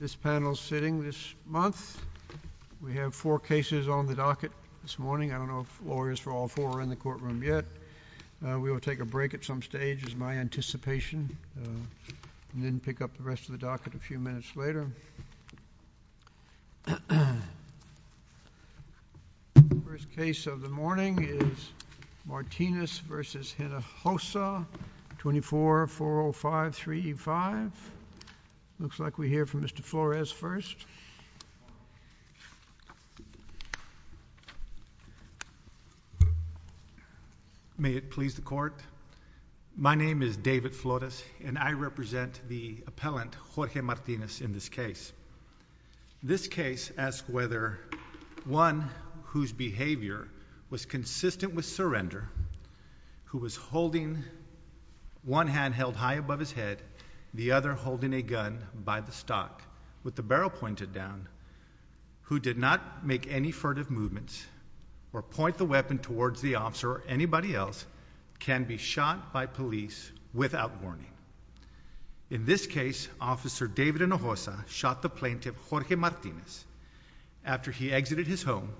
This panel is sitting this month. We have four cases on the docket this morning. I don't know if lawyers for all four are in the courtroom yet. We will take a break at some stage, is my anticipation, and then pick up the rest of the docket a few minutes later. The first case of the morning is Martinez v. Hinojosa, 2440535. Looks like we hear from Mr. Flores first. May it please the Court, my name is David Flores, and I represent the appellant Jorge Martinez in this case. This case asks whether one whose behavior was consistent with surrender, who was holding one hand held high above his head, the other holding a gun by the stock with the barrel pointed down, who did not make any furtive movements or point the weapon towards the officer or anybody else, can be shot by police without warning. In this case, Officer David Hinojosa shot the plaintiff, Jorge Martinez, after he exited his home,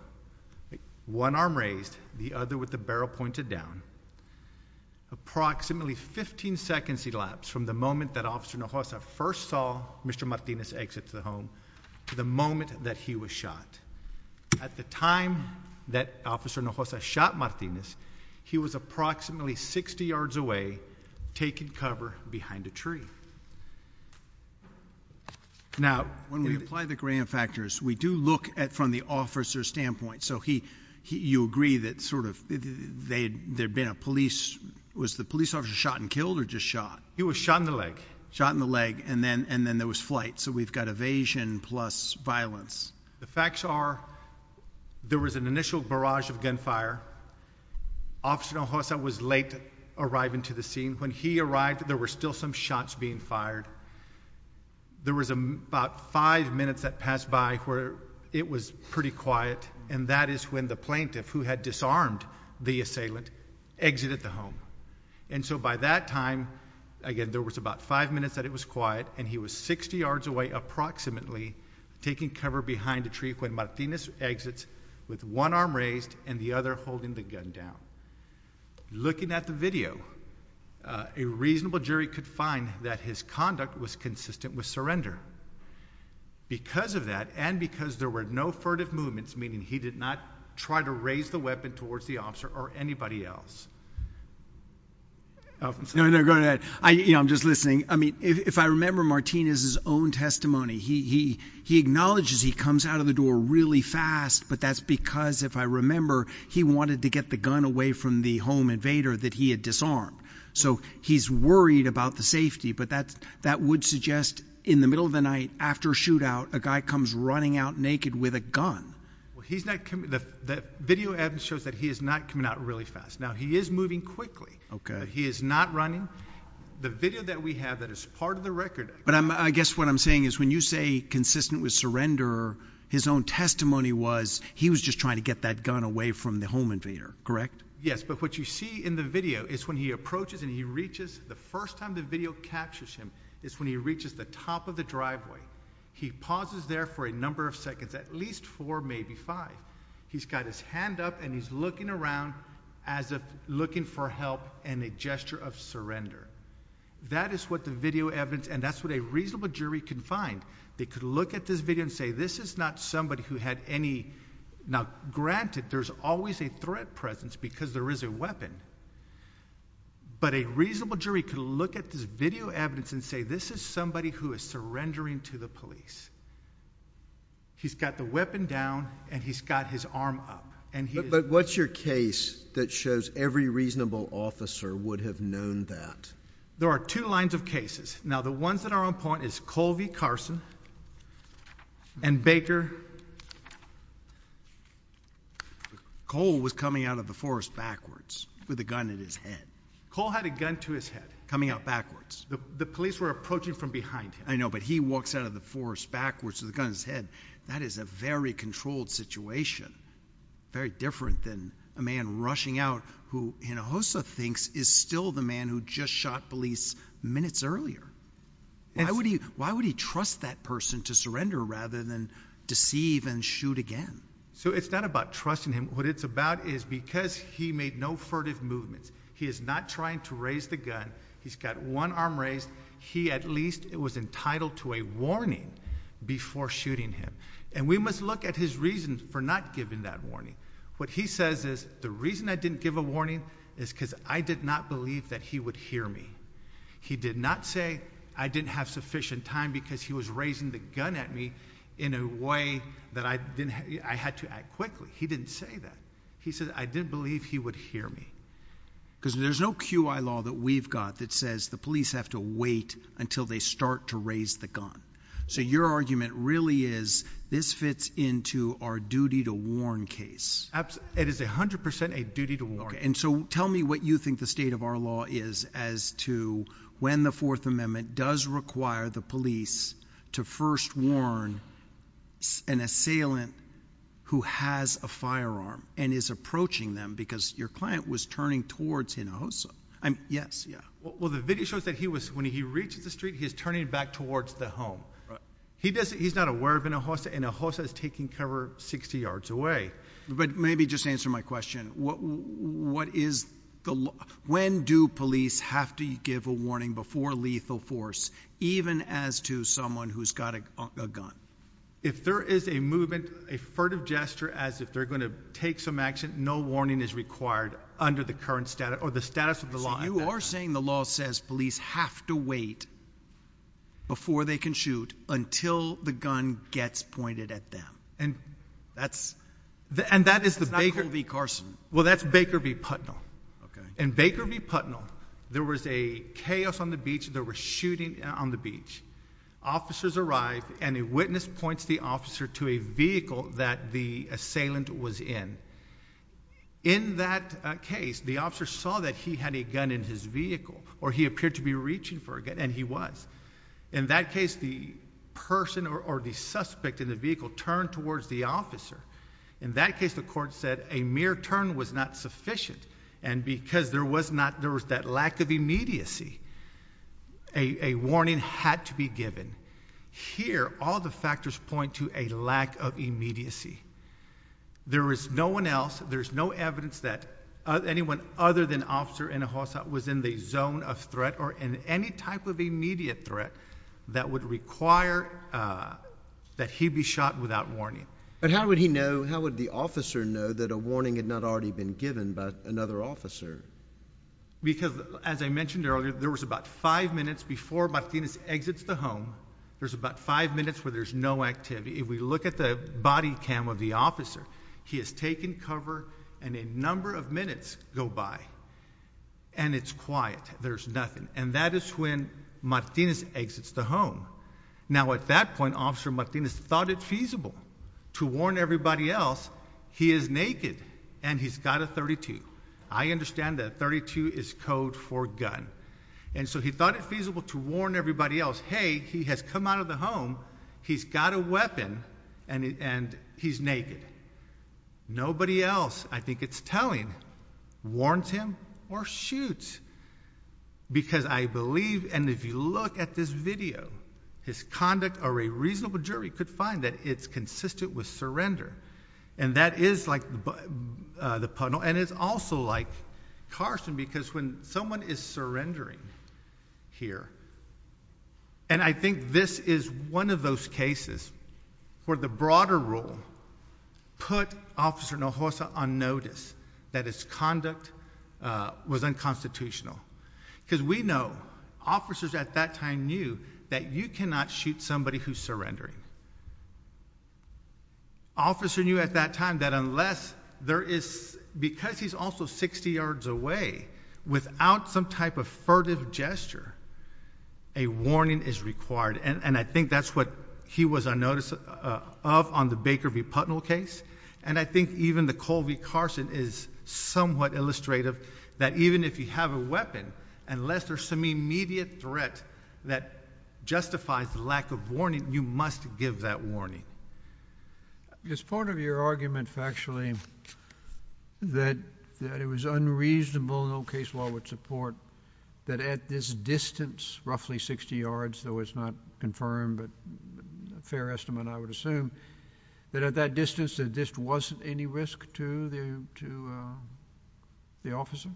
one arm raised, the other with the barrel pointed down. Approximately 15 seconds elapsed from the moment that Officer Hinojosa first saw Mr. Martinez exit the home to the moment that he was shot. At the time that Officer Hinojosa shot Martinez, he was approximately 60 yards away, taking cover behind a tree. Now, when we apply the gram factors, we do look at from the officer's standpoint. So he, you agree that sort of, there'd been a police, was the police officer shot and killed or just shot? He was shot in the leg. Shot in the leg, and then there was flight. So we've got evasion plus violence. The facts are, there was an initial barrage of gunfire. Officer Hinojosa was late arriving to the scene. When he arrived, there were still some shots being fired. There was about five minutes that passed by where it was pretty quiet, and that is when the plaintiff, who had disarmed the assailant, exited the home. And so by that time, again, there was about five minutes that it was quiet, and he was 60 yards away approximately, taking cover behind a tree when Martinez exits with one arm raised and the other holding the gun down. Looking at the video, a reasonable jury could find that his conduct was consistent with surrender. Because of that, and because there were no furtive movements, meaning he did not try to raise the weapon towards the officer or anybody else, Alvin? No, no, go ahead. I'm just listening. I mean, if I remember Martinez's own testimony, he acknowledges he comes out of the door really fast, but that's because, if I remember, he wanted to get the gun away from the home invader that he had disarmed. So he's worried about the safety, but that would suggest in the middle of the night after a shootout, a guy comes running out naked with a gun. Well, the video evidence shows that he is not coming out really fast. Now, he is moving quickly, but he is not running. The video that we have that is part of the record. But I guess what I'm saying is when you say consistent with surrender, his own testimony was he was just trying to get that gun away from the home invader, correct? Yes, but what you see in the video is when he approaches and he reaches, the first time the video captures him is when he reaches the top of the driveway. He pauses there for a number of seconds, at least four, maybe five. He's got his hand up and he's looking around as if looking for help and a gesture of surrender. That is what the video evidence and that's what a reasonable jury can find. They could look at this video and say this is not somebody who had any. Now, granted, there's always a threat presence because there is a weapon, but a reasonable jury could look at this video evidence and say this is somebody who is surrendering to the police. He's got the weapon down and he's got his arm up. But what's your case that shows every reasonable officer would have known that? There are two lines of cases. Now, the ones that are on point is Cole v. Carson and Baker. Cole was coming out of the forest backwards with a gun in his head. Cole had a gun to his head coming out backwards. The police were approaching from behind him. I know, but he walks out of the forest backwards with a gun in his head. That is a very controlled situation. Very different than a man rushing out who Hinojosa thinks is still the man who just shot police minutes earlier. Why would he trust that person to surrender rather than deceive and shoot again? It's not about trusting him. What it's about is because he made no furtive movements. He is not trying to raise the gun. He's got one arm raised. He at least was entitled to a warning before shooting him. And we must look at his reasons for not giving that warning. What he says is the reason I didn't give a warning is because I did not believe that he would hear me. He did not say I didn't have sufficient time because he was raising the gun at me in a way that I had to act quickly. He didn't say that. He said I didn't believe he would hear me. Because there's no QI law that we've got that says the police have to wait until they start to raise the gun. So your argument really is this fits into our duty to warn case. It is 100% a duty to warn. And so tell me what you think the state of our law is as to when the Fourth Amendment does require the police to first warn an assailant who has a firearm and is approaching them because your client was turning towards Hinojosa. Yes, yeah. Well, the video shows that when he reaches the street, he's turning back towards the home. He's not aware of Hinojosa and Hinojosa is taking cover 60 yards away. But maybe just answer my question. When do police have to give a warning before lethal force even as to someone who's got a gun? If there is a movement, a furtive gesture as if they're going to take some action, no warning is required under the current status or the status of the law. You are saying the law says police have to wait before they can shoot until the gun gets pointed at them. And that's not Colby Carson. Well, that's Baker v. Putnell. In Baker v. Putnell, there was a chaos on the beach. There was shooting on the beach. Officers arrived, and a witness points the officer to a vehicle that the assailant was in. In that case, the officer saw that he had a gun in his vehicle, or he appeared to be reaching for a gun, and he was. In that case, the person or the suspect in the vehicle turned towards the officer. In that case, the court said a mere turn was not sufficient. And because there was not, there was that lack of immediacy, a warning had to be given. Here, all the factors point to a lack of immediacy. There was no one else, there's no evidence that anyone other than Officer Inhofe was in the zone of threat or in any type of immediate threat that would require that he be shot without warning. But how would he know, how would the officer know that a warning had not already been given by another officer? Because, as I mentioned earlier, there was about five minutes before Martinez exits the home, there's about five minutes where there's no activity. If we look at the body cam of the officer, he has taken cover, and a number of minutes go by, and it's quiet, there's nothing. And that is when Martinez exits the home. Now, at that point, Officer Martinez thought it feasible to warn everybody else he is naked and he's got a .32. I understand that .32 is code for gun. And so he thought it feasible to warn everybody else, hey, he has come out of the home, he's got a weapon, and he's naked. Nobody else, I think it's telling, warns him or shoots. Because I believe, and if you look at this video, his conduct or a reasonable jury could find that it's consistent with surrender. And that is like the puddle, and it's also like Carson, because when someone is surrendering here, and I think this is one of those cases where the broader rule put Officer Nohosa on notice that his conduct was unconstitutional. Because we know officers at that time knew that you cannot shoot somebody who's surrendering. Officer knew at that time that unless there is, because he's also 60 yards away, without some type of furtive gesture, a warning is required. And I think that's what he was on notice of on the Baker v. Putnell case. And I think even the Colby-Carson is somewhat illustrative that even if you have a weapon, unless there's some immediate threat that justifies the lack of warning, you must give that warning. It's part of your argument, factually, that it was unreasonable, no case law would support, that at this distance, roughly 60 yards, though it's not confirmed, but a fair estimate, I would assume, that at that distance there just wasn't any risk to the officer?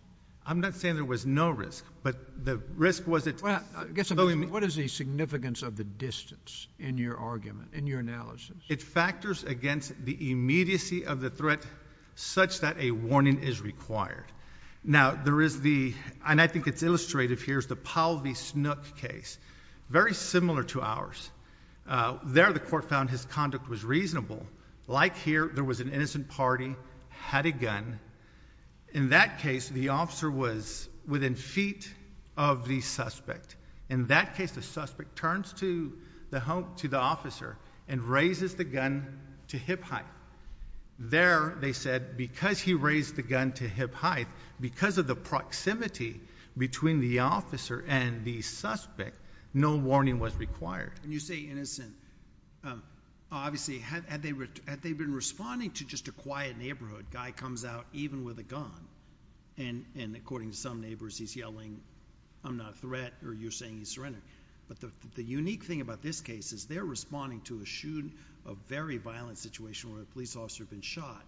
I'm not saying there was no risk, but the risk was that, though it may be... What is the significance of the distance in your argument, in your analysis? It factors against the immediacy of the threat such that a warning is required. Now, there is the, and I think it's illustrative here, is the Powell v. Snook case, very similar to ours. There the court found his conduct was reasonable. Like here, there was an innocent party, had a gun. In that case, the officer was within feet of the suspect. In that case, the suspect turns to the officer and raises the gun to hip height. There, they said, because he raised the gun to hip height, because of the proximity between the officer and the suspect, no warning was required. Correct, and you say innocent. Obviously, had they been responding to just a quiet neighborhood, a guy comes out even with a gun, and according to some neighbors, he's yelling, I'm not a threat, or you're saying he's surrendering. But the unique thing about this case is they're responding to a shoot, a very violent situation where a police officer had been shot.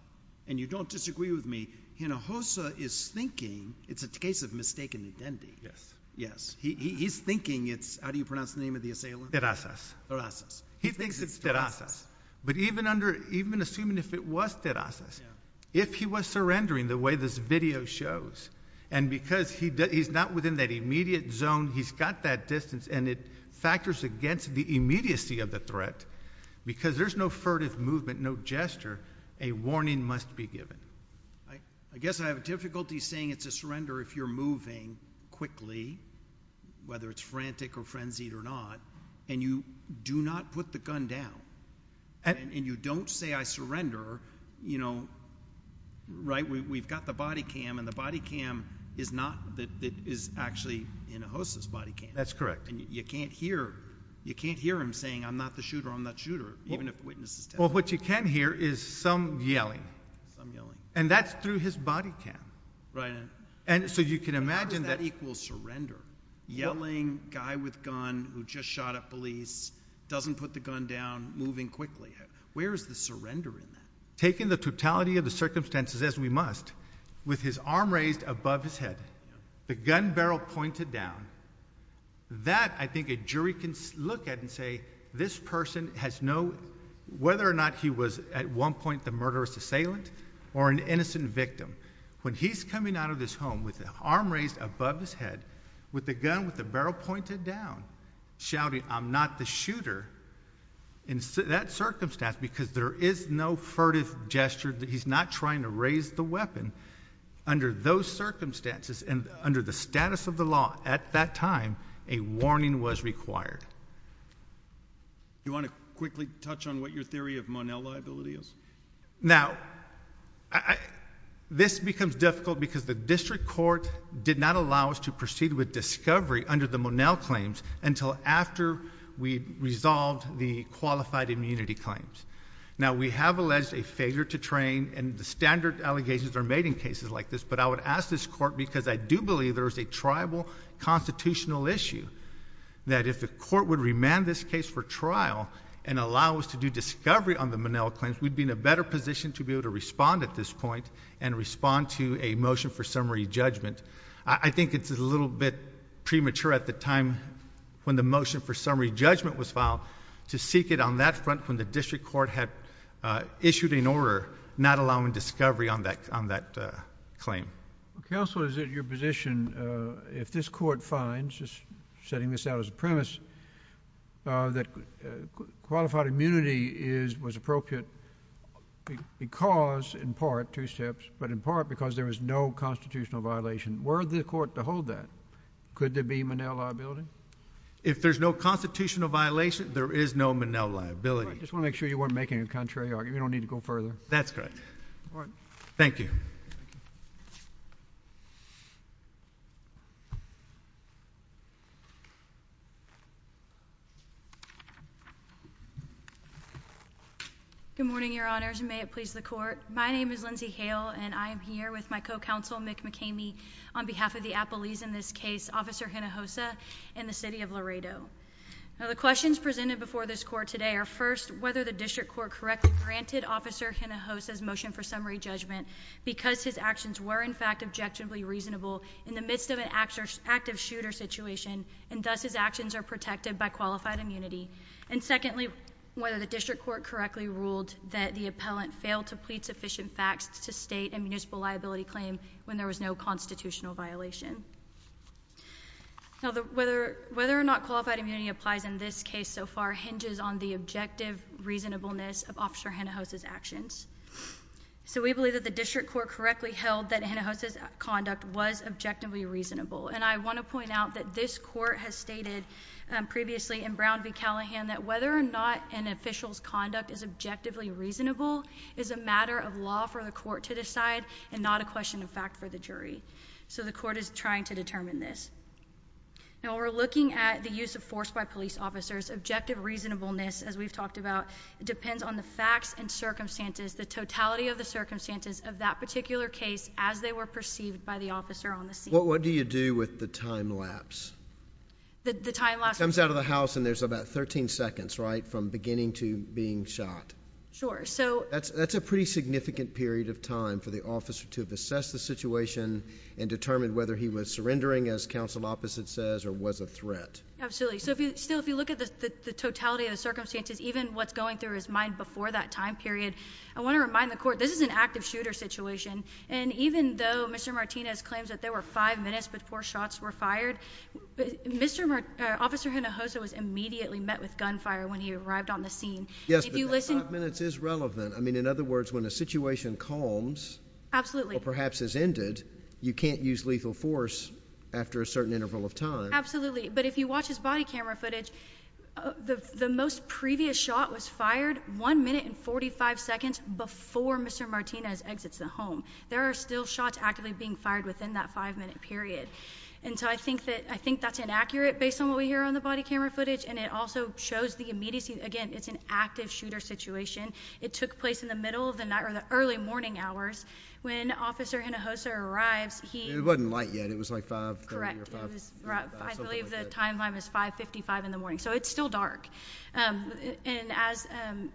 And you don't disagree with me. Hinojosa is thinking it's a case of mistaken identity. Yes. Yes, he's thinking it's, how do you pronounce the name of the assailant? He thinks it's Terasas. But even assuming if it was Terasas, if he was surrendering the way this video shows, and because he's not within that immediate zone, he's got that distance, and it factors against the immediacy of the threat, because there's no furtive movement, no gesture, a warning must be given. I guess I have difficulty saying it's a surrender if you're moving quickly, whether it's frantic or frenzied or not, and you do not put the gun down, and you don't say, I surrender, you know, right? We've got the body cam, and the body cam is not, it is actually Hinojosa's body cam. That's correct. And you can't hear him saying, I'm not the shooter, I'm not the shooter, even if the witness is telling you. Well, what you can hear is some yelling. Some yelling. And that's through his body cam. Right. And so you can imagine that. How does that equal surrender? Yelling, guy with gun who just shot at police, doesn't put the gun down, moving quickly. Where is the surrender in that? Taking the totality of the circumstances as we must, with his arm raised above his head, the gun barrel pointed down, that I think a jury can look at and say, this person has no, whether or not he was at one point the murderous assailant, or an innocent victim, when he's coming out of this home with the arm raised above his head, with the gun with the barrel pointed down, shouting, I'm not the shooter, in that circumstance, because there is no furtive gesture, he's not trying to raise the weapon, under those circumstances and under the status of the law at that time, a warning was required. Do you want to quickly touch on what your theory of Monell liability is? Now, this becomes difficult because the district court did not allow us to proceed with discovery under the Monell claims until after we resolved the qualified immunity claims. Now, we have alleged a failure to train, and the standard allegations are made in cases like this, but I would ask this court, because I do believe there is a tribal constitutional issue, that if the court would remand this case for trial and allow us to do discovery on the Monell claims, we'd be in a better position to be able to respond at this point and respond to a motion for summary judgment. I think it's a little bit premature at the time when the motion for summary judgment was filed, to seek it on that front when the district court had issued an order not allowing discovery on that claim. Counsel, is it your position, if this court finds, just setting this out as a premise, that qualified immunity was appropriate because, in part, two steps, but in part because there was no constitutional violation, were the court to hold that? Could there be Monell liability? If there's no constitutional violation, there is no Monell liability. I just want to make sure you weren't making a contrary argument. You don't need to go further. That's correct. All right. Thank you. Good morning, Your Honors, and may it please the Court. My name is Lindsey Hale, and I am here with my co-counsel, Mick McKamey, on behalf of the appellees in this case, Officer Hinojosa and the City of Laredo. Now, the questions presented before this Court today are, first, whether the district court correctly granted Officer Hinojosa's motion for summary judgment because his actions were, in fact, objectively reasonable in the midst of an active shooter situation, and thus his actions are protected by qualified immunity, and, secondly, whether the district court correctly ruled that the appellant failed to plead sufficient facts to state a municipal liability claim when there was no constitutional violation. Now, whether or not qualified immunity applies in this case so far hinges on the objective reasonableness of Officer Hinojosa's actions. So we believe that the district court correctly held that Hinojosa's conduct was objectively reasonable, and I want to point out that this Court has stated previously in Brown v. Callahan that whether or not an official's conduct is objectively reasonable is a matter of law for the Court to decide and not a question of fact for the jury. So the Court is trying to determine this. Now, we're looking at the use of force by police officers. Objective reasonableness, as we've talked about, depends on the facts and circumstances, the totality of the circumstances of that particular case as they were perceived by the officer on the scene. What do you do with the time lapse? The time lapse comes out of the house, and there's about 13 seconds, right, from beginning to being shot. Sure. That's a pretty significant period of time for the officer to have assessed the situation and determined whether he was surrendering, as counsel opposite says, or was a threat. Absolutely. So still, if you look at the totality of the circumstances, even what's going through his mind before that time period, I want to remind the Court this is an active shooter situation, and even though Mr. Martinez claims that there were five minutes before shots were fired, Officer Hinojosa was immediately met with gunfire when he arrived on the scene. Yes, but that five minutes is relevant. I mean, in other words, when a situation calms or perhaps has ended, you can't use lethal force after a certain interval of time. Absolutely. But if you watch his body camera footage, the most previous shot was fired one minute and 45 seconds before Mr. Martinez exits the home. There are still shots actively being fired within that five-minute period. And so I think that's inaccurate based on what we hear on the body camera footage, and it also shows the immediacy. Again, it's an active shooter situation. It took place in the middle of the night or the early morning hours. When Officer Hinojosa arrives, he – It wasn't light yet. It was like 5.30 or 5.00. I believe the timeline was 5.55 in the morning. So it's still dark. And as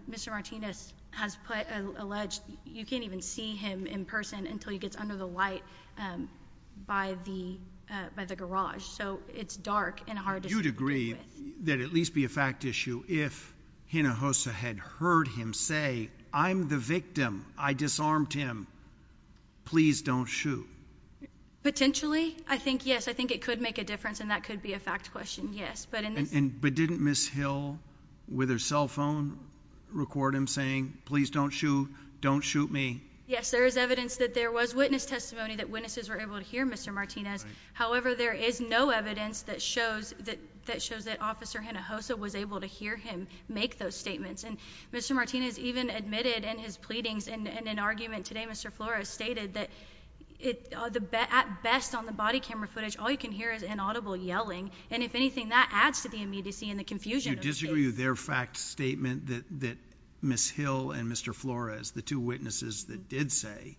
Mr. Martinez has alleged, you can't even see him in person until he gets under the light by the garage. So it's dark and hard to see. You'd agree that it'd at least be a fact issue if Hinojosa had heard him say, I'm the victim, I disarmed him, please don't shoot. Potentially, I think yes. I think it could make a difference, and that could be a fact question, yes. But didn't Ms. Hill, with her cell phone, record him saying, please don't shoot, don't shoot me? Yes, there is evidence that there was witness testimony that witnesses were able to hear Mr. Martinez. However, there is no evidence that shows that Officer Hinojosa was able to hear him make those statements. And Mr. Martinez even admitted in his pleadings in an argument today, Mr. Flores, stated that at best on the body camera footage, all you can hear is inaudible yelling. And if anything, that adds to the immediacy and the confusion. So you disagree with their fact statement that Ms. Hill and Mr. Flores, the two witnesses that did say,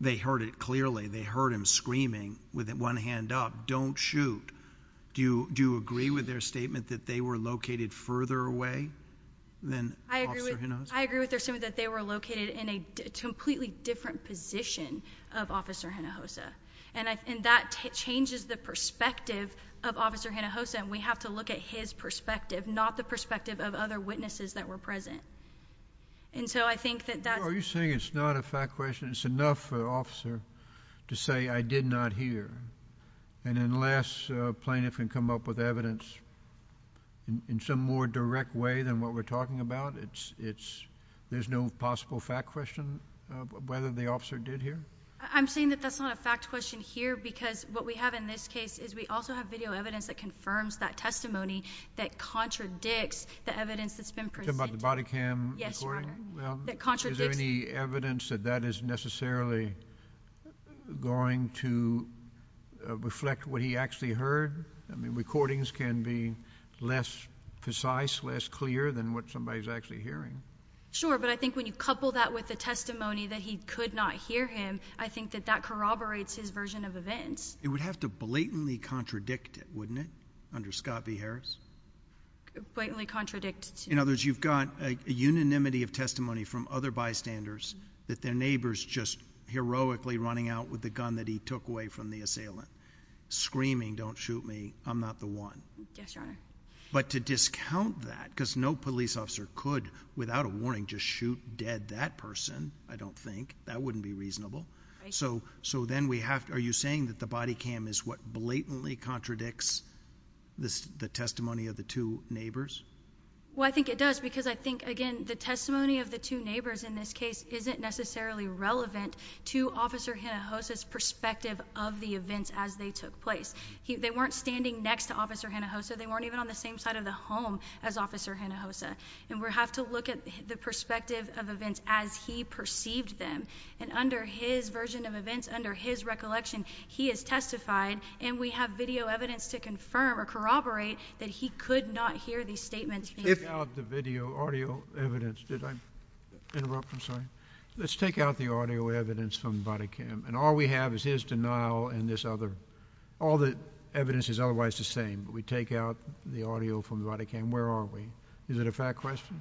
they heard it clearly, they heard him screaming with one hand up, don't shoot. Do you agree with their statement that they were located further away than Officer Hinojosa? I agree with their statement that they were located in a completely different position of Officer Hinojosa. And that changes the perspective of Officer Hinojosa, and we have to look at his perspective, not the perspective of other witnesses that were present. Are you saying it's not a fact question? It's enough for the officer to say, I did not hear. And unless a plaintiff can come up with evidence in some more direct way than what we're talking about, there's no possible fact question of whether the officer did hear? I'm saying that that's not a fact question here, because what we have in this case is we also have video evidence that confirms that testimony that contradicts the evidence that's been presented. You're talking about the body cam recording? Is there any evidence that that is necessarily going to reflect what he actually heard? I mean, recordings can be less precise, less clear than what somebody's actually hearing. Sure, but I think when you couple that with the testimony that he could not hear him, I think that that corroborates his version of events. It would have to blatantly contradict it, wouldn't it, under Scott v. Harris? Blatantly contradict. In other words, you've got a unanimity of testimony from other bystanders that their neighbor's just heroically running out with the gun that he took away from the assailant, screaming, don't shoot me, I'm not the one. Yes, Your Honor. But to discount that, because no police officer could, without a warning, just shoot dead that person, I don't think, that wouldn't be reasonable. So then we have to, are you saying that the body cam is what blatantly contradicts the testimony of the two neighbors? Well, I think it does, because I think, again, the testimony of the two neighbors in this case isn't necessarily relevant to Officer Hinojosa's perspective of the events as they took place. They weren't standing next to Officer Hinojosa. They weren't even on the same side of the home as Officer Hinojosa. And we have to look at the perspective of events as he perceived them. And under his version of events, under his recollection, he has testified, and we have video evidence to confirm or corroborate that he could not hear these statements. Let's take out the video, audio evidence. Did I interrupt? I'm sorry. Let's take out the audio evidence from the body cam. And all we have is his denial and this other, all the evidence is otherwise the same. But we take out the audio from the body cam. Where are we? Is it a fact question?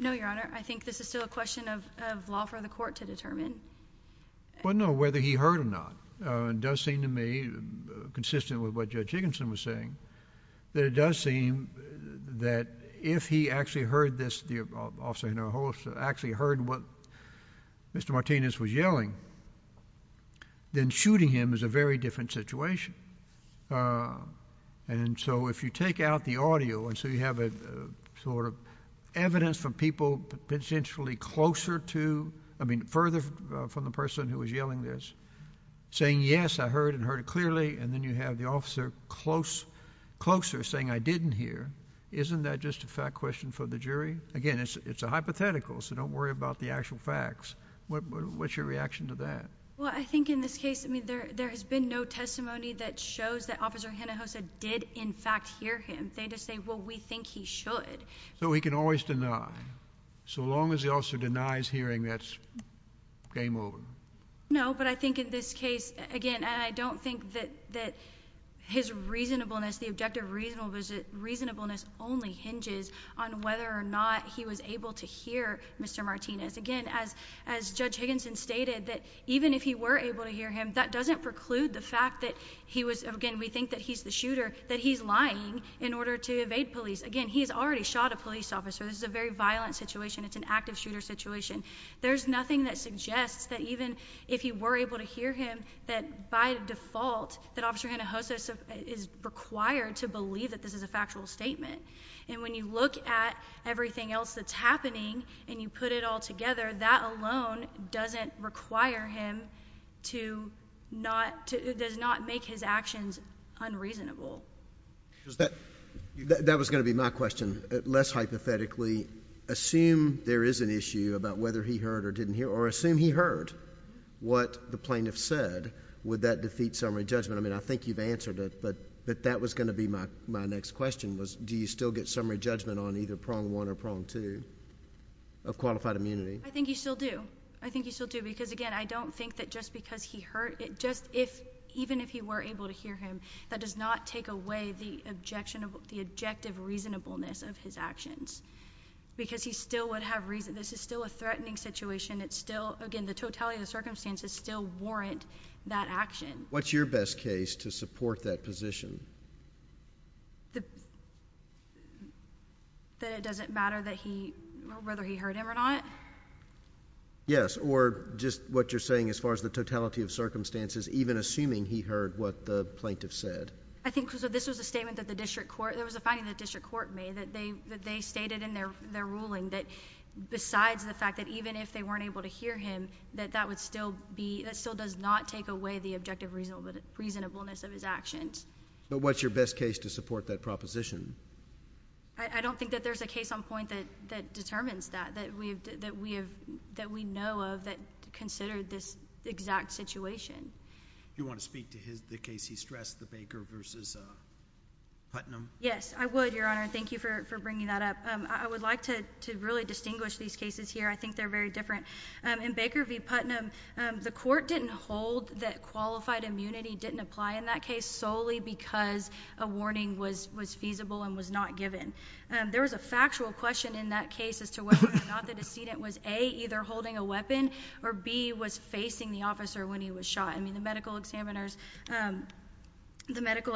No, Your Honor. I think this is still a question of law for the court to determine. Well, no, whether he heard or not. It does seem to me, consistent with what Judge Higginson was saying, that it does seem that if he actually heard this, the Officer Hinojosa actually heard what Mr. Martinez was yelling, then shooting him is a very different situation. And so if you take out the audio and so you have a sort of evidence from people potentially closer to, I mean, further from the person who was yelling this, saying, yes, I heard and heard it clearly, and then you have the Officer closer saying I didn't hear, isn't that just a fact question for the jury? Again, it's a hypothetical, so don't worry about the actual facts. What's your reaction to that? Well, I think in this case, I mean, there has been no testimony that shows that Officer Hinojosa did, in fact, hear him. They just say, well, we think he should. So he can always deny, so long as the Officer denies hearing, that's game over. No, but I think in this case, again, I don't think that his reasonableness, the objective reasonableness only hinges on whether or not he was able to hear Mr. Martinez. Again, as Judge Higginson stated, that even if he were able to hear him, that doesn't preclude the fact that he was, again, we think that he's the shooter, that he's lying in order to evade police. Again, he's already shot a police officer. This is a very violent situation. It's an active shooter situation. There's nothing that suggests that even if he were able to hear him, that by default that Officer Hinojosa is required to believe that this is a factual statement. And when you look at everything else that's happening and you put it all together, that alone doesn't require him to not make his actions unreasonable. That was going to be my question, less hypothetically. Assume there is an issue about whether he heard or didn't hear, or assume he heard what the plaintiff said, would that defeat summary judgment? I mean, I think you've answered it, but that was going to be my next question, was do you still get summary judgment on either prong one or prong two of qualified immunity? I think you still do. I think you still do because, again, I don't think that just because he heard, even if he were able to hear him, that does not take away the objective reasonableness of his actions because he still would have reason. This is still a threatening situation. Again, the totality of the circumstances still warrant that action. What's your best case to support that position? That it doesn't matter whether he heard him or not? Yes, or just what you're saying as far as the totality of circumstances, even assuming he heard what the plaintiff said. I think this was a statement that the district court, there was a finding that the district court made that they stated in their ruling that besides the fact that even if they weren't able to hear him, that that would still be, that still does not take away the objective reasonableness of his actions. But what's your best case to support that proposition? I don't think that there's a case on point that determines that, that we know of that considered this exact situation. Do you want to speak to the case he stressed, the Baker v. Putnam? Yes, I would, Your Honor. Thank you for bringing that up. I would like to really distinguish these cases here. I think they're very different. In Baker v. Putnam, the court didn't hold that qualified immunity didn't apply in that case solely because a warning was feasible and was not given. There was a factual question in that case as to whether or not the decedent was, A, either holding a weapon, or B, was facing the officer when he was shot. I mean, the medical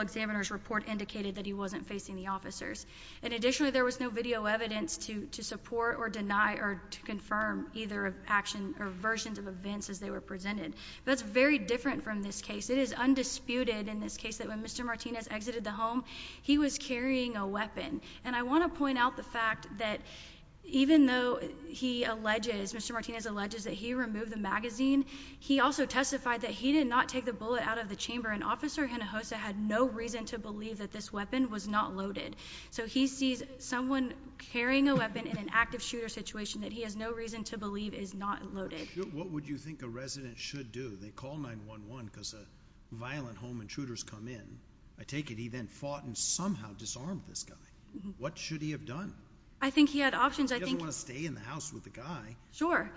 examiner's report indicated that he wasn't facing the officers. And additionally, there was no video evidence to support or deny or to confirm either action or versions of events as they were presented. That's very different from this case. It is undisputed in this case that when Mr. Martinez exited the home, he was carrying a weapon. And I want to point out the fact that even though he alleges, Mr. Martinez alleges that he removed the magazine, he also testified that he did not take the bullet out of the chamber, and Officer Hinojosa had no reason to believe that this weapon was not loaded. So he sees someone carrying a weapon in an active shooter situation that he has no reason to believe is not loaded. What would you think a resident should do? They call 911 because a violent home intruder has come in. I take it he then fought and somehow disarmed this guy. What should he have done? I think he had options. He doesn't want to stay in the house with the guy. Sure.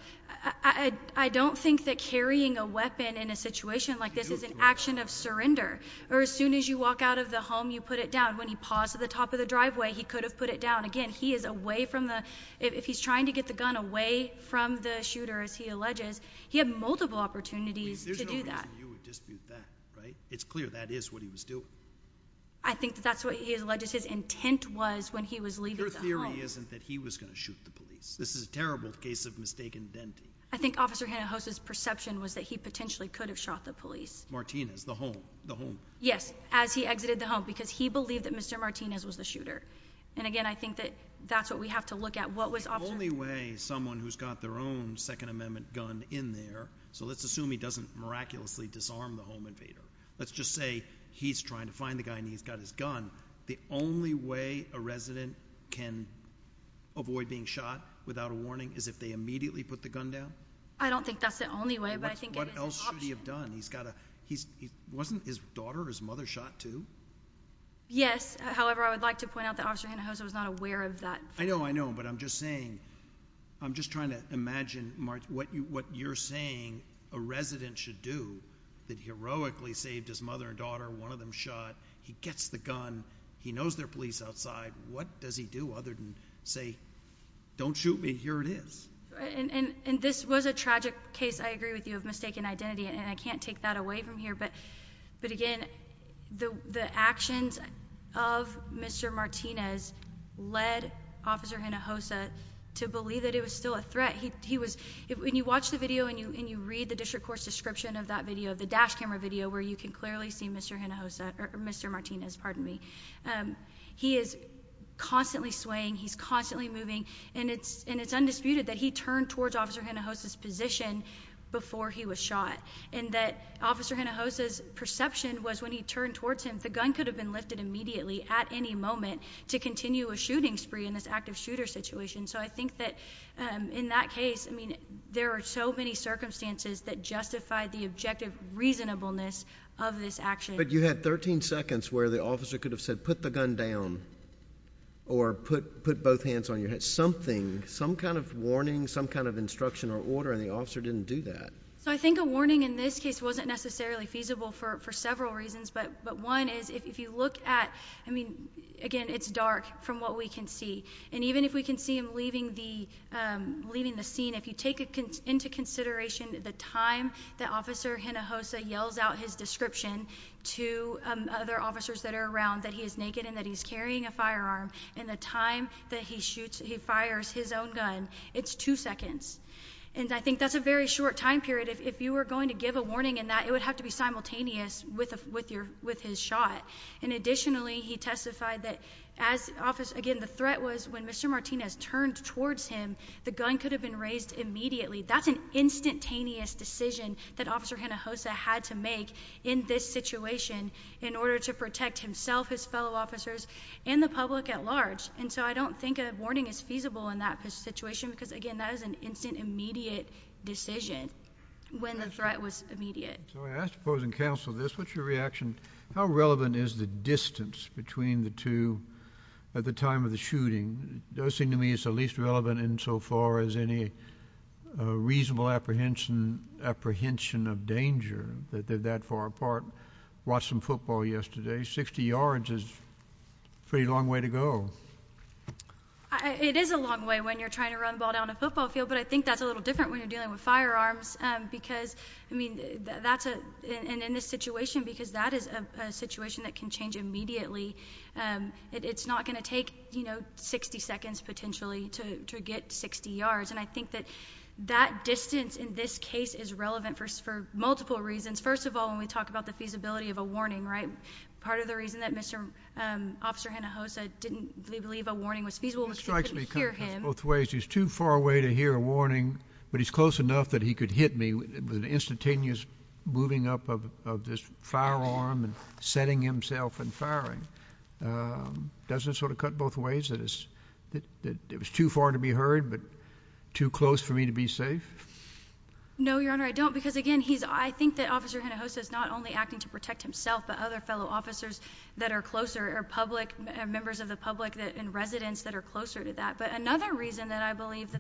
I don't think that carrying a weapon in a situation like this is an action of surrender. Or as soon as you walk out of the home, you put it down. When he paused at the top of the driveway, he could have put it down. Again, he is away from the—if he's trying to get the gun away from the shooter, as he alleges, he had multiple opportunities to do that. There's no reason you would dispute that, right? It's clear that is what he was doing. I think that's what he alleges his intent was when he was leaving the home. Your theory isn't that he was going to shoot the police. This is a terrible case of mistaken identity. I think Officer Hinojosa's perception was that he potentially could have shot the police. Martinez, the home. Yes, as he exited the home, because he believed that Mr. Martinez was the shooter. And, again, I think that that's what we have to look at. The only way someone who's got their own Second Amendment gun in there— so let's assume he doesn't miraculously disarm the home invader. Let's just say he's trying to find the guy and he's got his gun. The only way a resident can avoid being shot without a warning is if they immediately put the gun down? I don't think that's the only way, but I think it is an option. What else should he have done? Wasn't his daughter or his mother shot, too? Yes. However, I would like to point out that Officer Hinojosa was not aware of that. I know, I know, but I'm just saying—I'm just trying to imagine what you're saying a resident should do that heroically saved his mother and daughter, one of them shot. He gets the gun. He knows there are police outside. What does he do other than say, don't shoot me, here it is? And this was a tragic case, I agree with you, of mistaken identity, and I can't take that away from here. But again, the actions of Mr. Martinez led Officer Hinojosa to believe that it was still a threat. When you watch the video and you read the district court's description of that video, the dash camera video, where you can clearly see Mr. Hinojosa—Mr. Martinez, pardon me. He is constantly swaying. He's constantly moving. And it's undisputed that he turned towards Officer Hinojosa's position before he was shot and that Officer Hinojosa's perception was when he turned towards him, the gun could have been lifted immediately at any moment to continue a shooting spree in this active shooter situation. So I think that in that case, I mean, there are so many circumstances that justify the objective reasonableness of this action. But you had 13 seconds where the officer could have said, put the gun down or put both hands on your head. Something, some kind of warning, some kind of instruction or order, and the officer didn't do that. So I think a warning in this case wasn't necessarily feasible for several reasons. But one is if you look at—I mean, again, it's dark from what we can see. And even if we can see him leaving the scene, if you take into consideration the time that Officer Hinojosa yells out his description to other officers that are around, that he is naked and that he's carrying a firearm, and the time that he fires his own gun, it's two seconds. And I think that's a very short time period. If you were going to give a warning in that, it would have to be simultaneous with his shot. And additionally, he testified that as—again, the threat was when Mr. Martinez turned towards him, the gun could have been raised immediately. That's an instantaneous decision that Officer Hinojosa had to make in this situation in order to protect himself, his fellow officers, and the public at large. And so I don't think a warning is feasible in that situation because, again, that is an instant, immediate decision when the threat was immediate. So I ask opposing counsel this. What's your reaction? How relevant is the distance between the two at the time of the shooting? It does seem to me it's at least relevant insofar as any reasonable apprehension of danger that they're that far apart. I watched some football yesterday. Sixty yards is a pretty long way to go. It is a long way when you're trying to run ball down a football field, but I think that's a little different when you're dealing with firearms because, I mean, that's a— and in this situation because that is a situation that can change immediately, it's not going to take, you know, 60 seconds potentially to get 60 yards. And I think that that distance in this case is relevant for multiple reasons. First of all, when we talk about the feasibility of a warning, right, part of the reason that Mr. Officer Hinojosa didn't believe a warning was feasible was because he couldn't hear him. He strikes me kind of both ways. He's too far away to hear a warning, but he's close enough that he could hit me with an instantaneous moving up of this firearm and setting himself and firing. Doesn't it sort of cut both ways that it was too far to be heard but too close for me to be safe? No, Your Honor, I don't. Because, again, he's—I think that Officer Hinojosa is not only acting to protect himself but other fellow officers that are closer or public—members of the public and residents that are closer to that. But another reason that I believe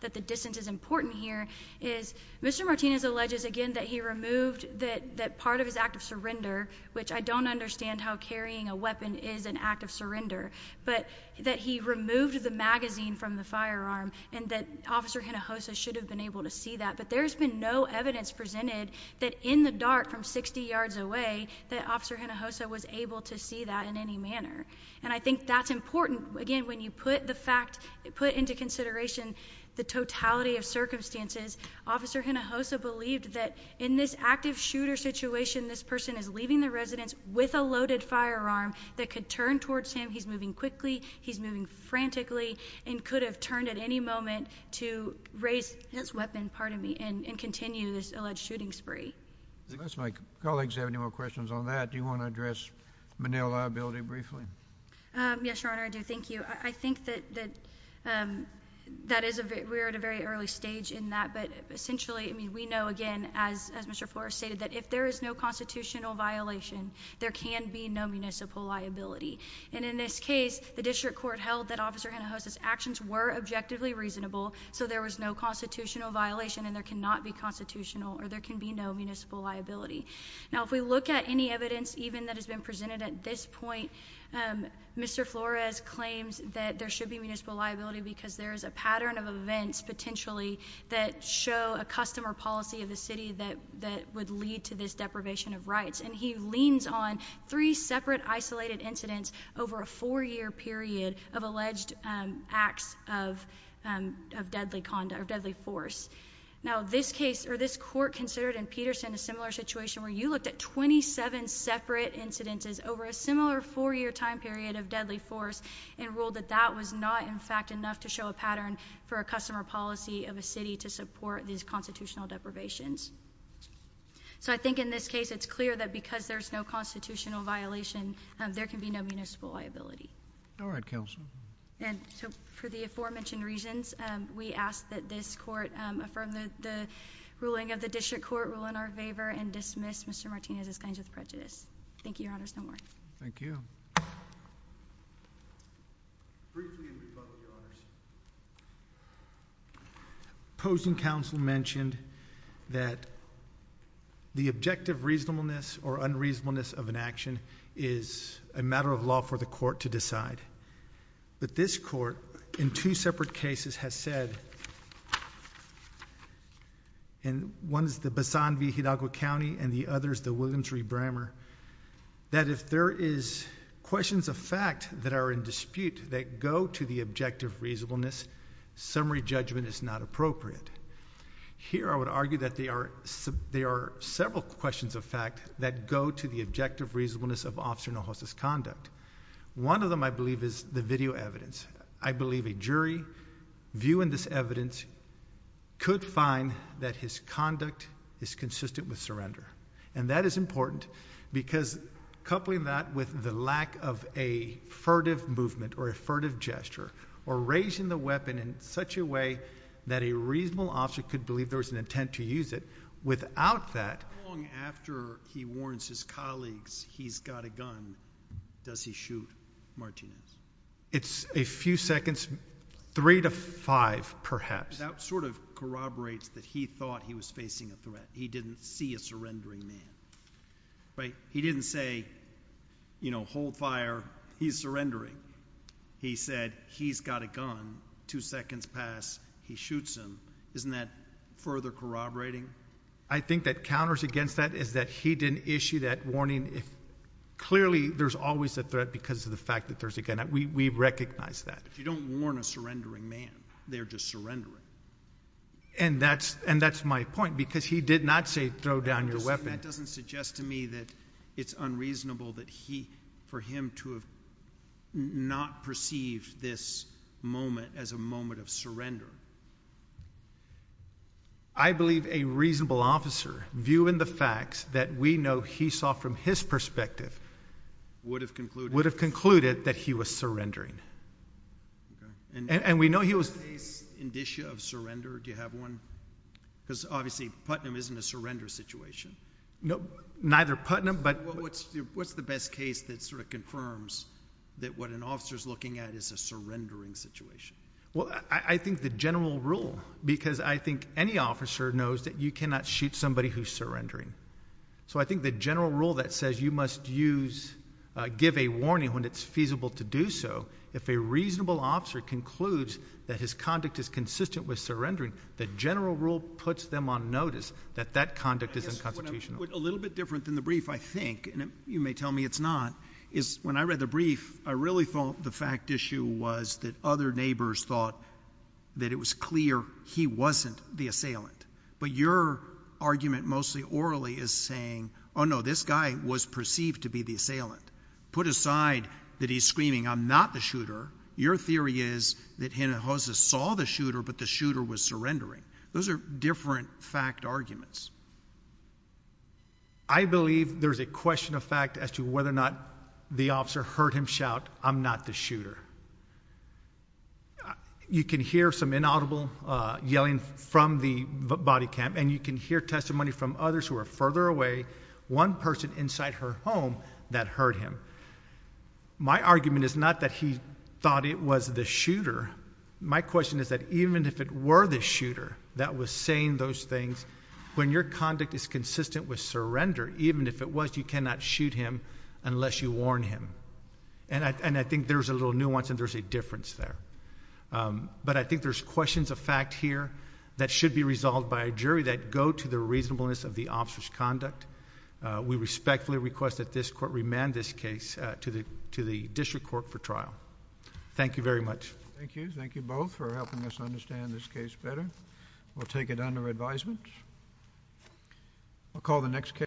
that the distance is important here is Mr. Martinez alleges, again, that he removed that part of his act of surrender, which I don't understand how carrying a weapon is an act of surrender, but that he removed the magazine from the firearm and that Officer Hinojosa should have been able to see that. But there's been no evidence presented that in the dart from 60 yards away that Officer Hinojosa was able to see that in any manner. And I think that's important. Again, when you put the fact—put into consideration the totality of circumstances, Officer Hinojosa believed that in this active shooter situation this person is leaving the residence with a loaded firearm that could turn towards him—he's moving quickly, he's moving frantically— and could have turned at any moment to raise his weapon, pardon me, and continue this alleged shooting spree. Unless my colleagues have any more questions on that, do you want to address Menil liability briefly? Yes, Your Honor, I do. Thank you. I think that we're at a very early stage in that, but essentially, I mean, we know, again, as Mr. Flores stated, that if there is no constitutional violation, there can be no municipal liability. And in this case, the district court held that Officer Hinojosa's actions were objectively reasonable, so there was no constitutional violation and there cannot be constitutional or there can be no municipal liability. Now, if we look at any evidence even that has been presented at this point, Mr. Flores claims that there should be municipal liability because there is a pattern of events, potentially, that show a custom or policy of the city that would lead to this deprivation of rights. And he leans on three separate isolated incidents over a four-year period of alleged acts of deadly force. Now, this case or this court considered in Peterson a similar situation where you looked at 27 separate incidences over a similar four-year time period of deadly force and ruled that that was not, in fact, enough to show a pattern for a custom or policy of a city to support these constitutional deprivations. So I think in this case, it's clear that because there's no constitutional violation, there can be no municipal liability. All right, Counsel. And so for the aforementioned reasons, we ask that this court affirm the ruling of the district court, rule in our favor, and dismiss Mr. Martinez's claims of prejudice. Thank you, Your Honors. No more. Thank you. Briefly in rebuttal, Your Honors. Opposing counsel mentioned that the objective reasonableness or unreasonableness of an action is a matter of law for the court to decide. But this court, in two separate cases, has said, and one is the Basan v. Hidalgo County and the other is the Williams v. Brammer, that if there is questions of fact that are in dispute that go to the objective reasonableness, summary judgment is not appropriate. Here, I would argue that there are several questions of fact that go to the objective reasonableness of Officer Nojos' conduct. One of them, I believe, is the video evidence. I believe a jury viewing this evidence could find that his conduct is consistent with surrender. And that is important because coupling that with the lack of a furtive movement or a furtive gesture, or raising the weapon in such a way that a reasonable officer could believe there was an intent to use it, without that— How long after he warns his colleagues he's got a gun does he shoot Martinez? It's a few seconds. Three to five, perhaps. That sort of corroborates that he thought he was facing a threat. He didn't see a surrendering man, right? He didn't say, you know, hold fire, he's surrendering. He said he's got a gun, two seconds pass, he shoots him. Isn't that further corroborating? I think that counters against that is that he didn't issue that warning. Clearly, there's always a threat because of the fact that there's a gun. We recognize that. You don't warn a surrendering man, they're just surrendering. And that's my point because he did not say throw down your weapon. That doesn't suggest to me that it's unreasonable for him to have not perceived this moment as a moment of surrender. I believe a reasonable officer, viewing the facts that we know he saw from his perspective, would have concluded that he was surrendering. And we know he was— Do you have a case indicia of surrender? Do you have one? Because obviously Putnam isn't a surrender situation. Neither Putnam, but— What's the best case that sort of confirms that what an officer's looking at is a surrendering situation? Well, I think the general rule, because I think any officer knows that you cannot shoot somebody who's surrendering. So I think the general rule that says you must give a warning when it's feasible to do so, if a reasonable officer concludes that his conduct is consistent with surrendering, the general rule puts them on notice that that conduct is unconstitutional. A little bit different than the brief, I think, and you may tell me it's not, is when I read the brief, I really thought the fact issue was that other neighbors thought that it was clear he wasn't the assailant. But your argument, mostly orally, is saying, oh, no, this guy was perceived to be the assailant. Put aside that he's screaming, I'm not the shooter. Your theory is that he and Jose saw the shooter, but the shooter was surrendering. Those are different fact arguments. I believe there's a question of fact as to whether or not the officer heard him shout, I'm not the shooter. You can hear some inaudible yelling from the body cam, and you can hear testimony from others who are further away, one person inside her home that heard him. My argument is not that he thought it was the shooter. My question is that even if it were the shooter that was saying those things, when your conduct is consistent with surrender, even if it was, you cannot shoot him unless you warn him. And I think there's a little nuance and there's a difference there. But I think there's questions of fact here that should be resolved by a jury that go to the reasonableness of the officer's conduct. We respectfully request that this court remand this case to the district court for trial. Thank you very much. Thank you. Thank you both for helping us understand this case better. We'll take it under advisement. We'll call the next case.